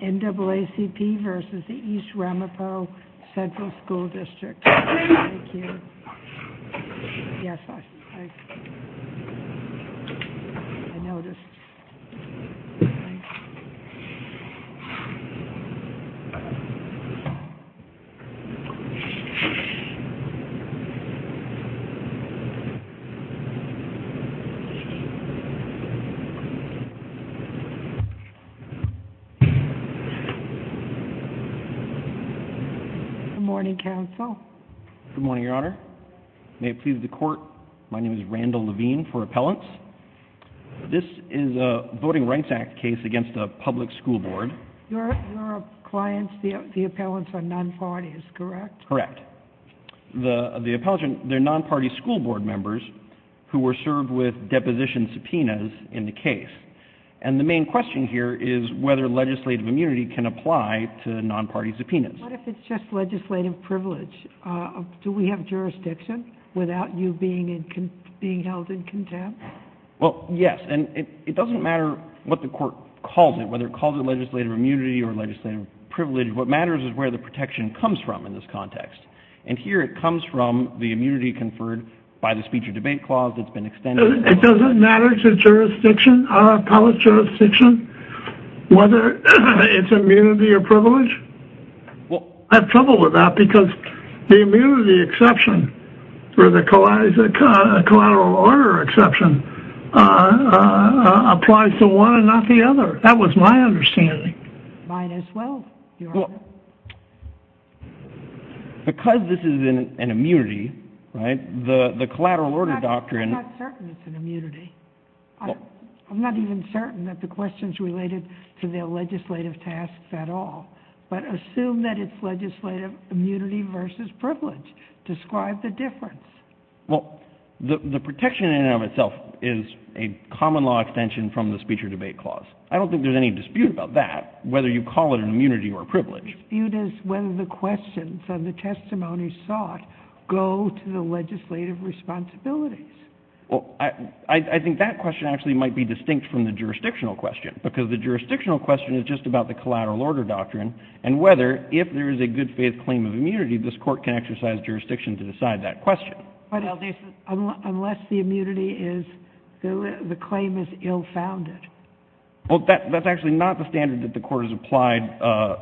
NAACP v. East Ramapo Central School District. Good morning, counsel. Good morning, Your Honor. May it please the court, my name is Randall Levine for appellants. This is a Voting Rights Act case against a public school board. Your clients, the appellants, are non-parties, correct? Correct. The appellants are non-party school board members who were served with deposition subpoenas in the case. And the main question here is whether legislative immunity can apply to non-party subpoenas. What if it's just legislative privilege? Do we have jurisdiction without you being held in contempt? Well, yes, and it doesn't matter what the court calls it, whether it calls it legislative immunity or legislative privilege. What matters is where the protection comes from in this context. And here it comes from the immunity conferred by the speech or debate clause that's been extended. It doesn't matter to jurisdiction, appellate jurisdiction, whether it's immunity or privilege? I have trouble with that because the immunity exception or the collateral order exception applies to one and not the other. That was my understanding. Mine as well, Your Honor. Because this is an immunity, right, the collateral order doctrine— I'm not certain it's an immunity. I'm not even certain that the question's related to their legislative tasks at all. But assume that it's legislative immunity versus privilege. Describe the difference. Well, the protection in and of itself is a common law extension from the speech or debate clause. I don't think there's any dispute about that, whether you call it an immunity or privilege. The dispute is whether the questions and the testimonies sought go to the legislative responsibilities. Well, I think that question actually might be distinct from the jurisdictional question because the jurisdictional question is just about the collateral order doctrine and whether, if there is a good-faith claim of immunity, this court can exercise jurisdiction to decide that question. Unless the immunity is—the claim is ill-founded. Well, that's actually not the standard that the Court has applied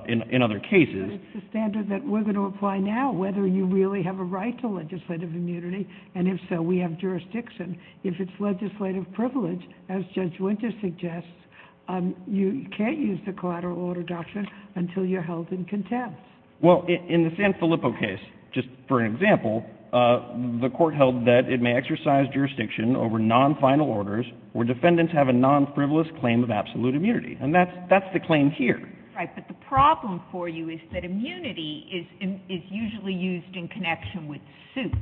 in other cases. But it's the standard that we're going to apply now, whether you really have a right to legislative immunity, and if so, we have jurisdiction. If it's legislative privilege, as Judge Winter suggests, you can't use the collateral order doctrine until you're held in contempt. Well, in the San Filippo case, just for an example, the Court held that it may exercise jurisdiction over non-final orders where defendants have a non-frivolous claim of absolute immunity. And that's the claim here. Right, but the problem for you is that immunity is usually used in connection with suit.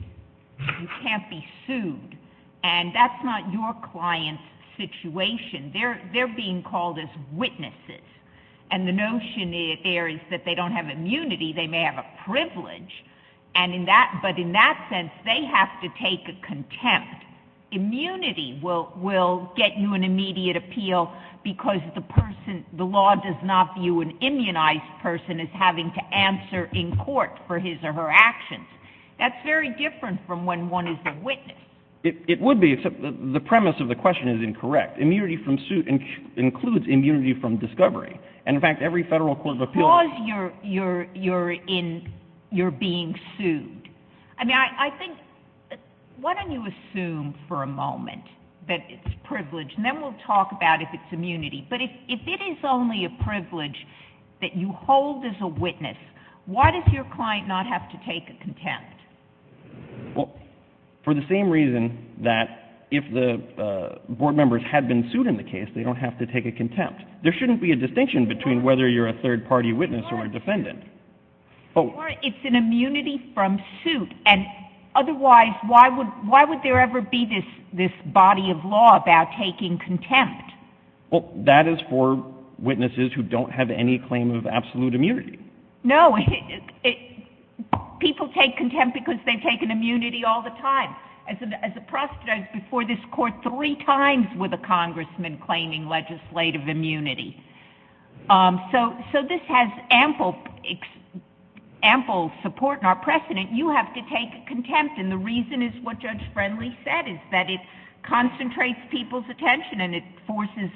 You can't be sued. And that's not your client's situation. They're being called as witnesses. And the notion there is that they don't have immunity. They may have a privilege. And in that—but in that sense, they have to take a contempt. Immunity will get you an immediate appeal because the person—the law does not view an immunized person as having to answer in court for his or her actions. That's very different from when one is a witness. It would be, except the premise of the question is incorrect. Immunity from suit includes immunity from discovery. And, in fact, every federal court of appeals— Because you're being sued. I mean, I think—why don't you assume for a moment that it's privilege, and then we'll talk about if it's immunity. But if it is only a privilege that you hold as a witness, why does your client not have to take a contempt? Well, for the same reason that if the board members had been sued in the case, they don't have to take a contempt. There shouldn't be a distinction between whether you're a third-party witness or a defendant. Well, that is for witnesses who don't have any claim of absolute immunity. No, people take contempt because they've taken immunity all the time. As a prostitute, I was before this court three times with a congressman claiming legislative immunity. So this has ample support in our precedent. You have to take a contempt. And the reason is what Judge Friendly said, is that it concentrates people's attention, and it forces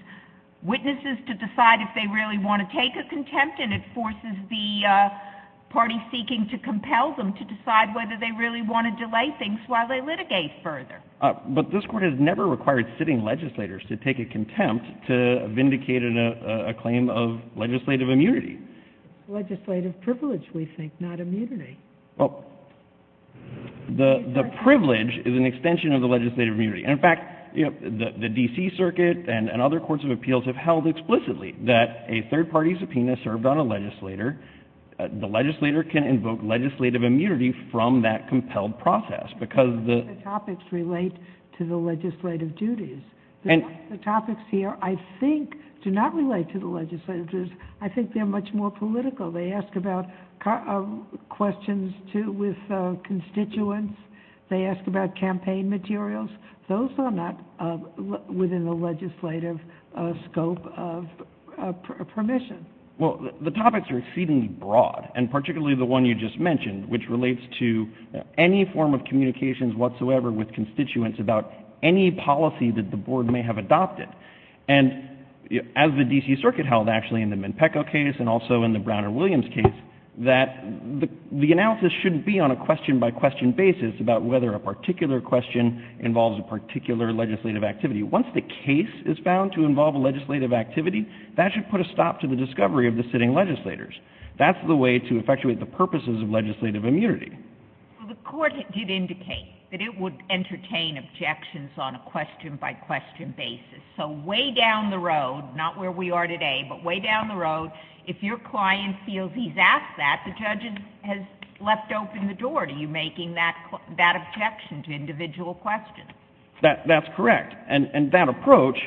witnesses to decide if they really want to take a contempt, and it forces the party seeking to compel them to decide whether they really want to delay things while they litigate further. But this court has never required sitting legislators to take a contempt to vindicate a claim of legislative immunity. Legislative privilege, we think, not immunity. Well, the privilege is an extension of the legislative immunity. In fact, the D.C. Circuit and other courts of appeals have held explicitly that a third-party subpoena served on a legislator, the legislator can invoke legislative immunity from that compelled process. The topics relate to the legislative duties. The topics here, I think, do not relate to the legislative duties. I think they're much more political. They ask about questions with constituents. They ask about campaign materials. Those are not within the legislative scope of permission. Well, the topics are exceedingly broad, and particularly the one you just mentioned, which relates to any form of communications whatsoever with constituents about any policy that the board may have adopted. And as the D.C. Circuit held, actually, in the Menpeco case and also in the Brown and Williams case, that the analysis shouldn't be on a question-by-question basis about whether a particular question involves a particular legislative activity. Once the case is found to involve a legislative activity, that should put a stop to the discovery of the sitting legislators. That's the way to effectuate the purposes of legislative immunity. The court did indicate that it would entertain objections on a question-by-question basis. So way down the road, not where we are today, but way down the road, if your client feels he's asked that, the judge has left open the door to you in making that objection to individual questions. That's correct. And that approach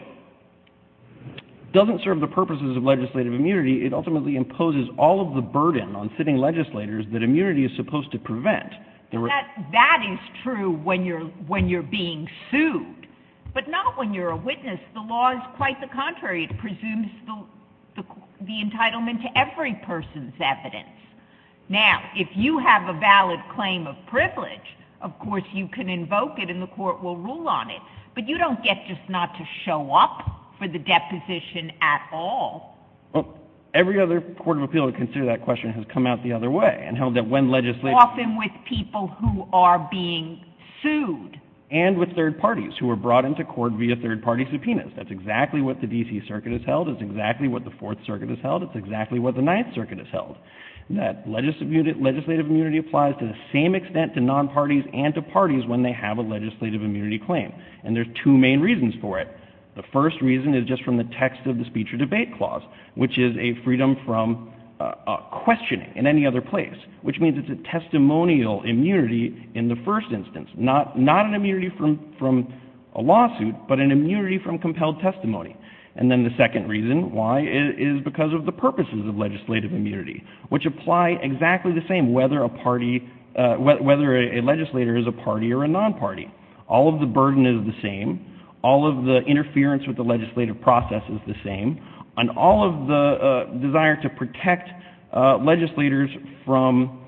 doesn't serve the purposes of legislative immunity. It ultimately imposes all of the burden on sitting legislators that immunity is supposed to prevent. That is true when you're being sued. But not when you're a witness. The law is quite the contrary. It presumes the entitlement to every person's evidence. Now, if you have a valid claim of privilege, of course you can invoke it and the court will rule on it. But you don't get just not to show up for the deposition at all. Well, every other court of appeal to consider that question has come out the other way and held that when legislative ---- Often with people who are being sued. And with third parties who are brought into court via third-party subpoenas. That's exactly what the D.C. Circuit has held. It's exactly what the Fourth Circuit has held. It's exactly what the Ninth Circuit has held. That legislative immunity applies to the same extent to non-parties and to parties when they have a legislative immunity claim. And there are two main reasons for it. The first reason is just from the text of the Speech or Debate Clause, which is a freedom from questioning in any other place, which means it's a testimonial immunity in the first instance. Not an immunity from a lawsuit, but an immunity from compelled testimony. And then the second reason why is because of the purposes of legislative immunity. Which apply exactly the same whether a legislator is a party or a non-party. All of the burden is the same. All of the interference with the legislative process is the same. And all of the desire to protect legislators from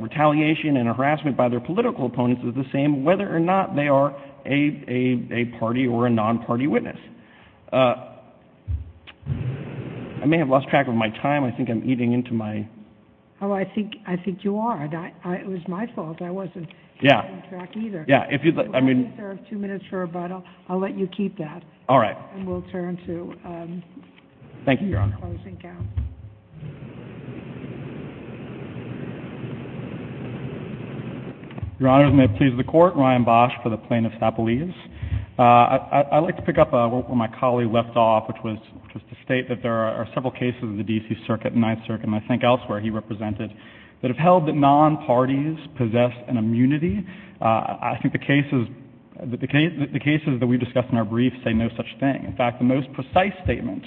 retaliation and harassment by their political opponents is the same, whether or not they are a party or a non-party witness. I may have lost track of my time. I think I'm eating into my... Oh, I think you are. It was my fault. I wasn't keeping track either. Yeah. If you'd like, I mean... We only have two minutes for rebuttal. I'll let you keep that. All right. And we'll turn to the closing count. Thank you, Your Honor. Your Honors, may it please the Court, Ryan Bosch for the Plaintiff's Appellees. I'd like to pick up where my colleague left off, which was to state that there are several cases of the D.C. Circuit, Ninth Circuit, and I think elsewhere he represented, that have held that non-parties possess an immunity. I think the cases that we've discussed in our brief say no such thing. In fact, the most precise statement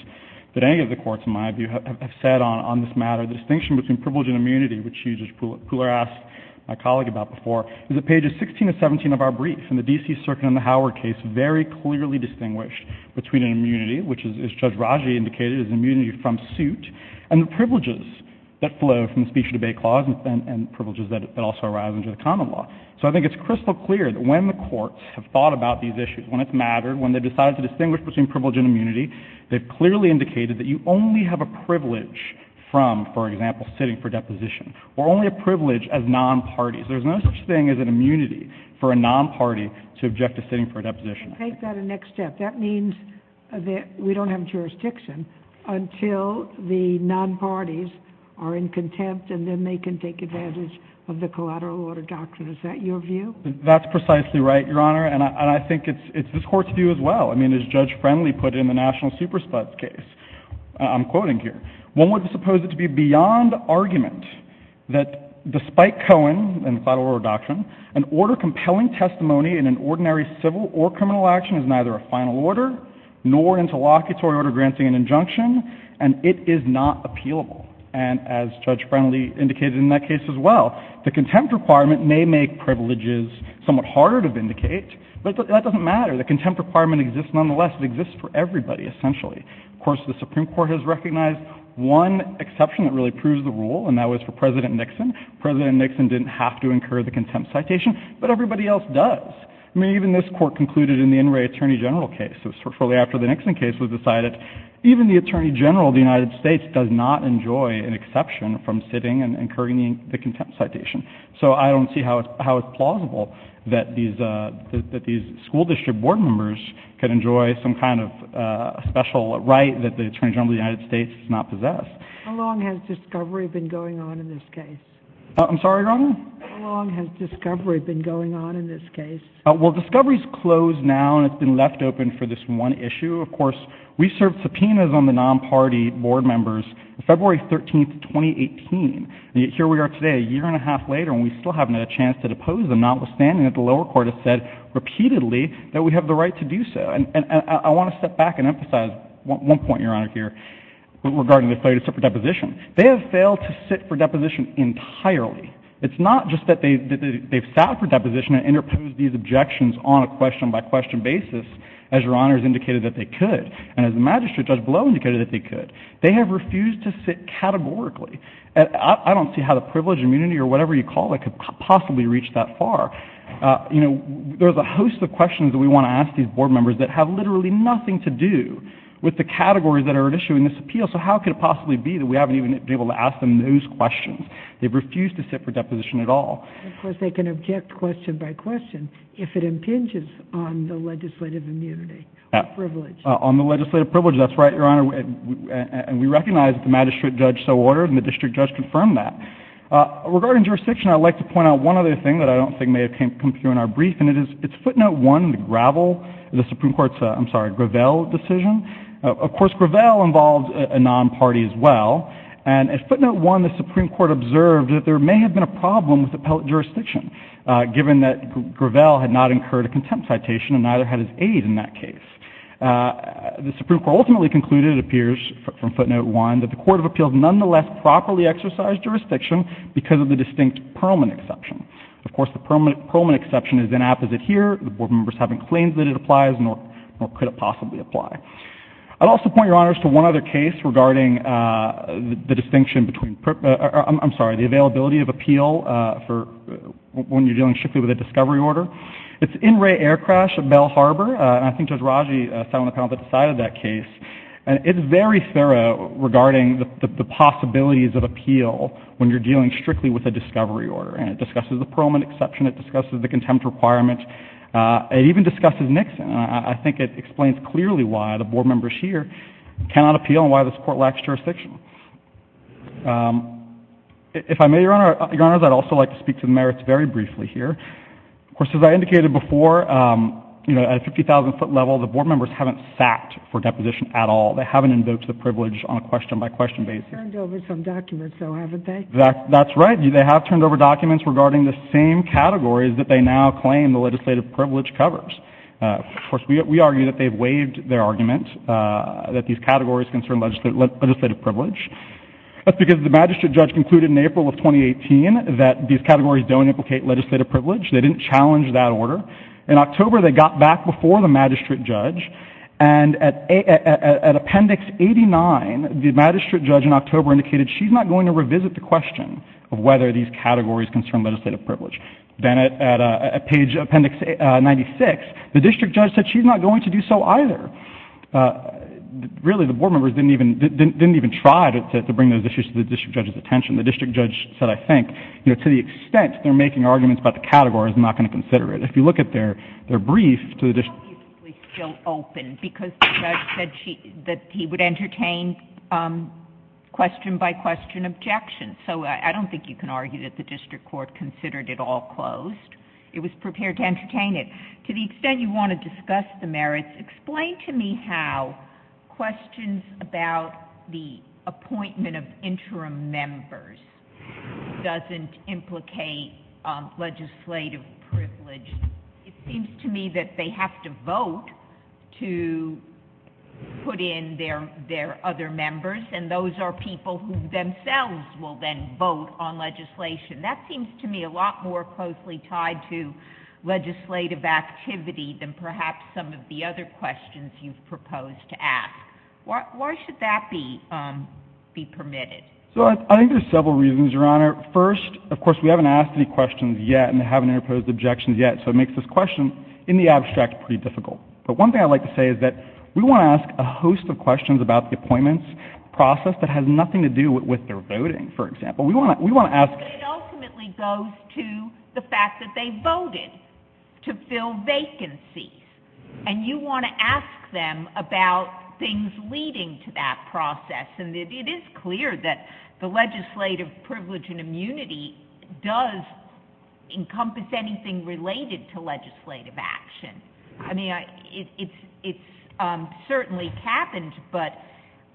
that any of the courts, in my view, have said on this matter, the distinction between privilege and immunity, which you, Judge Pooler, asked my colleague about before, is that pages 16 and 17 of our brief in the D.C. Circuit and the Howard case very clearly distinguished between an immunity, which, as Judge Raji indicated, is immunity from suit, and the privileges that flow from the speech-debate clause and privileges that also arise under the common law. So I think it's crystal clear that when the courts have thought about these issues, when it's mattered, when they've decided to distinguish between privilege and immunity, they've clearly indicated that you only have a privilege from, for example, sitting for deposition, or only a privilege as non-parties. There's no such thing as an immunity for a non-party to object to sitting for a deposition. And take that a next step. That means that we don't have jurisdiction until the non-parties are in contempt and then they can take advantage of the collateral order doctrine. Is that your view? That's precisely right, Your Honor. And I think it's this Court's view as well. I mean, as Judge Friendly put it in the National Super Spots case I'm quoting here, one would suppose it to be beyond argument that despite Cohen and collateral order doctrine, an order compelling testimony in an ordinary civil or criminal action is neither a final order nor interlocutory order granting an injunction, and it is not appealable. And as Judge Friendly indicated in that case as well, the contempt requirement may make privileges somewhat harder to vindicate, but that doesn't matter. The contempt requirement exists nonetheless. It exists for everybody essentially. Of course, the Supreme Court has recognized one exception that really proves the rule, and that was for President Nixon. President Nixon didn't have to incur the contempt citation, but everybody else does. I mean, even this Court concluded in the Inouye Attorney General case, shortly after the Nixon case was decided, even the Attorney General of the United States does not enjoy an exception from sitting and incurring the contempt citation. So I don't see how it's plausible that these school district board members can enjoy some kind of special right that the Attorney General of the United States does not possess. How long has discovery been going on in this case? I'm sorry, Your Honor? How long has discovery been going on in this case? Well, discovery is closed now, and it's been left open for this one issue. Of course, we served subpoenas on the non-party board members February 13, 2018, and yet here we are today, a year and a half later, and we still haven't had a chance to depose them, notwithstanding that the lower court has said repeatedly that we have the right to do so. And I want to step back and emphasize one point, Your Honor, here, regarding the failure to sit for deposition. They have failed to sit for deposition entirely. It's not just that they've sat for deposition and interposed these objections on a question-by-question basis, as Your Honor has indicated that they could, and as the magistrate, Judge Blow, indicated that they could. They have refused to sit categorically. I don't see how the privilege, immunity, or whatever you call it could possibly reach that far. You know, there's a host of questions that we want to ask these board members that have literally nothing to do with the categories that are at issue in this appeal, so how could it possibly be that we haven't even been able to ask them those questions? They've refused to sit for deposition at all. Of course, they can object question-by-question if it impinges on the legislative immunity or privilege. On the legislative privilege, that's right, Your Honor. And we recognize that the magistrate judge so ordered, and the district judge confirmed that. Regarding jurisdiction, I'd like to point out one other thing that I don't think may have come through in our brief, and it is Footnote 1, the Gravel, the Supreme Court's, I'm sorry, Gravel decision. Of course, Gravel involved a non-party as well, and at Footnote 1, the Supreme Court observed that there may have been a problem with appellate jurisdiction, given that Gravel had not incurred a contempt citation and neither had his aid in that case. The Supreme Court ultimately concluded, it appears from Footnote 1, that the Court of Appeals nonetheless properly exercised jurisdiction because of the distinct Perlman exception. Of course, the Perlman exception is inapposite here. The board members haven't claimed that it applies, nor could it possibly apply. I'd also point, Your Honors, to one other case regarding the distinction between, I'm sorry, the availability of appeal for when you're dealing strictly with a discovery order. It's In Re Air Crash at Bell Harbor, and I think Judge Raji sat on the panel that decided that case, and it's very thorough regarding the possibilities of appeal when you're dealing strictly with a discovery order, and it discusses the Perlman exception, it discusses the contempt requirement, it even discusses Nixon. I think it explains clearly why the board members here cannot appeal and why this court lacks jurisdiction. If I may, Your Honors, I'd also like to speak to the merits very briefly here. Of course, as I indicated before, you know, at a 50,000-foot level, the board members haven't sat for deposition at all. They haven't invoked the privilege on a question-by-question basis. They've turned over some documents, though, haven't they? That's right. They have turned over documents regarding the same categories that they now claim the legislative privilege covers. Of course, we argue that they've waived their argument that these categories concern legislative privilege. That's because the magistrate judge concluded in April of 2018 that these categories don't implicate legislative privilege. They didn't challenge that order. In October, they got back before the magistrate judge, and at Appendix 89, the magistrate judge in October indicated she's not going to revisit the question of whether these categories concern legislative privilege. Then at Page Appendix 96, the district judge said she's not going to do so either. Really, the board members didn't even try to bring those issues to the district judge's attention. The district judge said, I think, you know, to the extent they're making arguments about the categories, I'm not going to consider it. If you look at their brief to the district judge. It's obviously still open because the judge said that he would entertain question-by-question objections. So I don't think you can argue that the district court considered it all closed. It was prepared to entertain it. To the extent you want to discuss the merits, explain to me how questions about the appointment of interim members doesn't implicate legislative privilege. It seems to me that they have to vote to put in their other members, and those are people who themselves will then vote on legislation. That seems to me a lot more closely tied to legislative activity than perhaps some of the other questions you've proposed to ask. Why should that be permitted? So I think there's several reasons, Your Honor. First, of course, we haven't asked any questions yet and haven't interposed objections yet, so it makes this question in the abstract pretty difficult. But one thing I'd like to say is that we want to ask a host of questions about the appointments process that has nothing to do with their voting, for example. It ultimately goes to the fact that they voted to fill vacancies, and you want to ask them about things leading to that process, and it is clear that the legislative privilege and immunity does encompass anything related to legislative action. I mean, it's certainly happened, but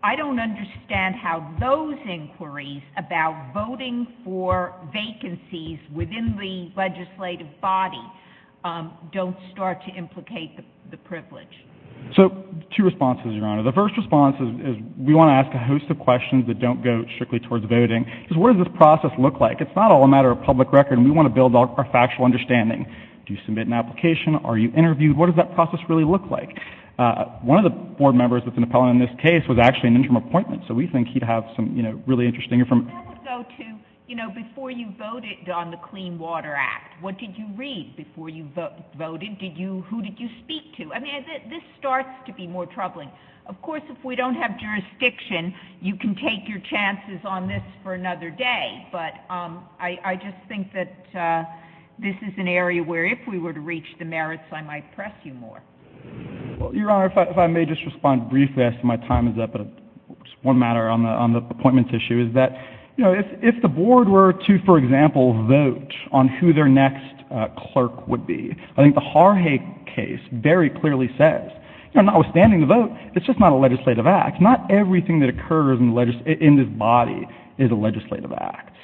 I don't understand how those inquiries about voting for vacancies within the legislative body don't start to implicate the privilege. So two responses, Your Honor. The first response is we want to ask a host of questions that don't go strictly towards voting, because what does this process look like? It's not all a matter of public record, and we want to build our factual understanding. Do you submit an application? Are you interviewed? What does that process really look like? One of the board members that's an appellant in this case was actually an interim appointment, so we think he'd have some really interesting information. That would go to, you know, before you voted on the Clean Water Act, what did you read before you voted? Who did you speak to? I mean, this starts to be more troubling. Of course, if we don't have jurisdiction, you can take your chances on this for another day, but I just think that this is an area where if we were to reach the merits, I might press you more. Well, Your Honor, if I may just respond briefly as to my time is up, just one matter on the appointments issue is that, you know, if the board were to, for example, vote on who their next clerk would be, I think the Harhaig case very clearly says, you know, notwithstanding the vote, it's just not a legislative act. Not everything that occurs in this body is a legislative act.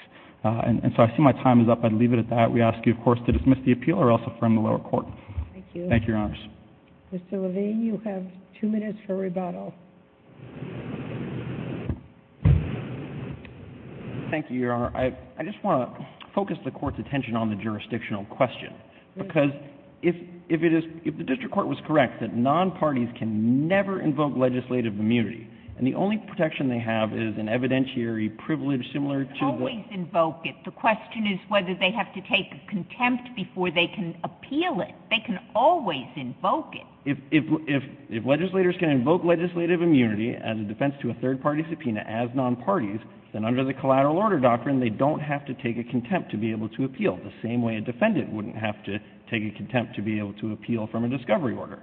And so I see my time is up. I'd leave it at that. We ask you, of course, to dismiss the appeal or else affirm the lower court. Thank you. Thank you, Your Honors. Mr. Levine, you have two minutes for rebuttal. Thank you, Your Honor. I just want to focus the Court's attention on the jurisdictional question, because if it is — if the district court was correct that nonparties can never invoke legislative immunity and the only protection they have is an evidentiary privilege similar to — Always invoke it. The question is whether they have to take contempt before they can appeal it. They can always invoke it. If legislators can invoke legislative immunity as a defense to a third-party subpoena as nonparties, then under the collateral order doctrine, they don't have to take a contempt to be able to appeal, the same way a defendant wouldn't have to take a contempt to be able to appeal from a discovery order.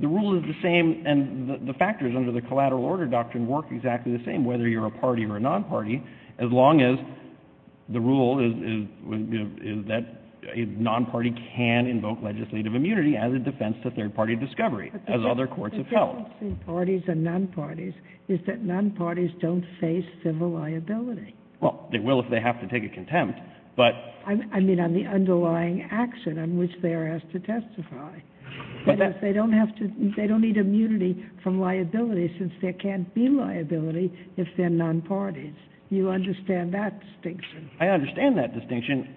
The rule is the same, and the factors under the collateral order doctrine work exactly the same, whether you're a party or a nonparty, as long as the rule is that a nonparty can invoke legislative immunity as a defense to third-party discovery, as other courts have held. The difference between parties and nonparties is that nonparties don't face civil liability. Well, they will if they have to take a contempt, but — I mean on the underlying action on which they're asked to testify. They don't need immunity from liability since there can't be liability if they're nonparties. Do you understand that distinction? I understand that distinction.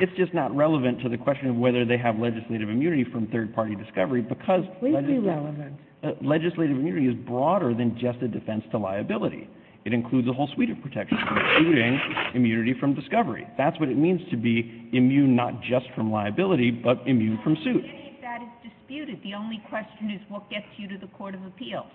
It's just not relevant to the question of whether they have legislative immunity from third-party discovery, because legislative immunity is broader than just a defense to liability. It includes a whole suite of protections, including immunity from discovery. That's what it means to be immune not just from liability, but immune from suit. Well, any of that is disputed. The only question is what gets you to the court of appeals.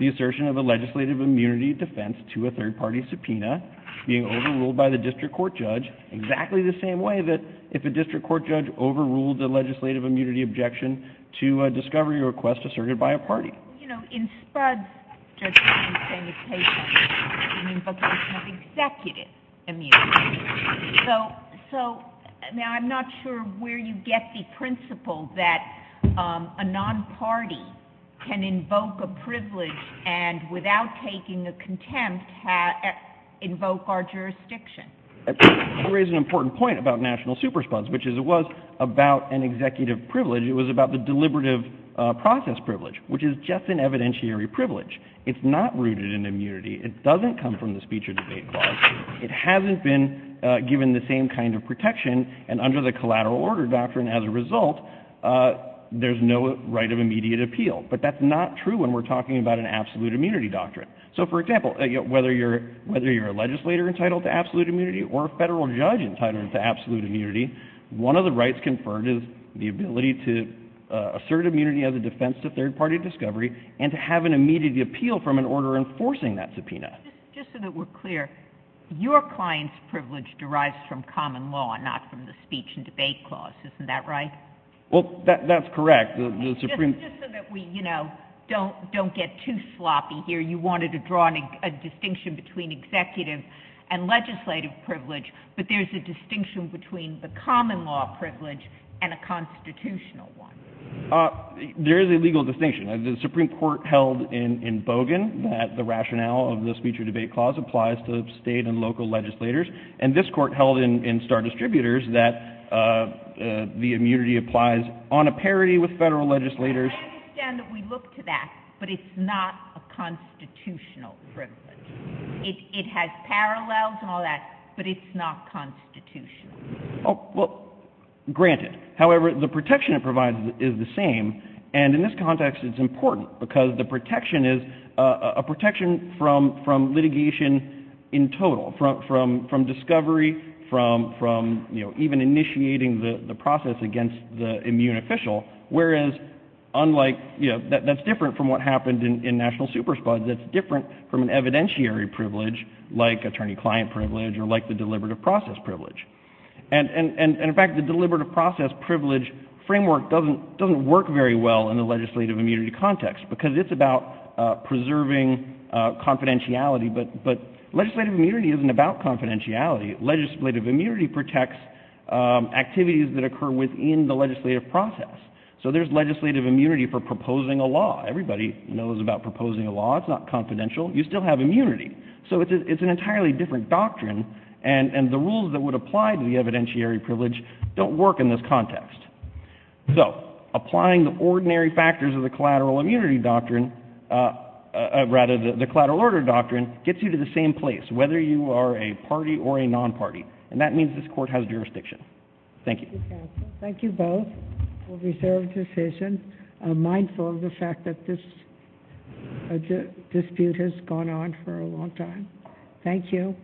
The assertion of a legislative immunity defense to a third-party subpoena being overruled by the district court judge exactly the same way that if a district court judge overruled the legislative immunity objection to a discovery request asserted by a party. Well, you know, in Spuds, judges are saying it's a case of an invocation of executive immunity. So now I'm not sure where you get the principle that a nonparty can invoke a privilege and without taking a contempt invoke our jurisdiction. You raise an important point about national supersponse, which is it was about an executive privilege. It was about the deliberative process privilege, which is just an evidentiary privilege. It's not rooted in immunity. It doesn't come from the speech or debate clause. It hasn't been given the same kind of protection, and under the collateral order doctrine as a result, there's no right of immediate appeal. But that's not true when we're talking about an absolute immunity doctrine. So, for example, whether you're a legislator entitled to absolute immunity or a federal judge entitled to absolute immunity, one of the rights conferred is the ability to assert immunity as a defense to third-party discovery and to have an immediate appeal from an order enforcing that subpoena. Just so that we're clear, your client's privilege derives from common law and not from the speech and debate clause. Isn't that right? Well, that's correct. Just so that we, you know, don't get too sloppy here, you wanted to draw a distinction between executive and legislative privilege, but there's a distinction between the common law privilege and a constitutional one. There is a legal distinction. The Supreme Court held in Bogan that the rationale of the speech or debate clause applies to state and local legislators, and this court held in Star Distributors that the immunity applies on a parity with federal legislators. I understand that we look to that, but it's not a constitutional privilege. It has parallels and all that, but it's not constitutional. Well, granted. However, the protection it provides is the same, and in this context it's important because the protection is a protection from litigation in total, from discovery, from, you know, even initiating the process against the immune official, whereas unlike, you know, that's different from what happened in national super spuds. That's different from an evidentiary privilege like attorney-client privilege or like the deliberative process privilege. And, in fact, the deliberative process privilege framework doesn't work very well in the legislative immunity context because it's about preserving confidentiality, but legislative immunity isn't about confidentiality. Legislative immunity protects activities that occur within the legislative process. So there's legislative immunity for proposing a law. Everybody knows about proposing a law. It's not confidential. You still have immunity. So it's an entirely different doctrine, and the rules that would apply to the evidentiary privilege don't work in this context. So applying the ordinary factors of the collateral immunity doctrine, rather the collateral order doctrine, gets you to the same place whether you are a party or a non-party, and that means this court has jurisdiction. Thank you. Thank you, counsel. Thank you both. We'll reserve the decision, mindful of the fact that this dispute has gone on for a long time. Thank you.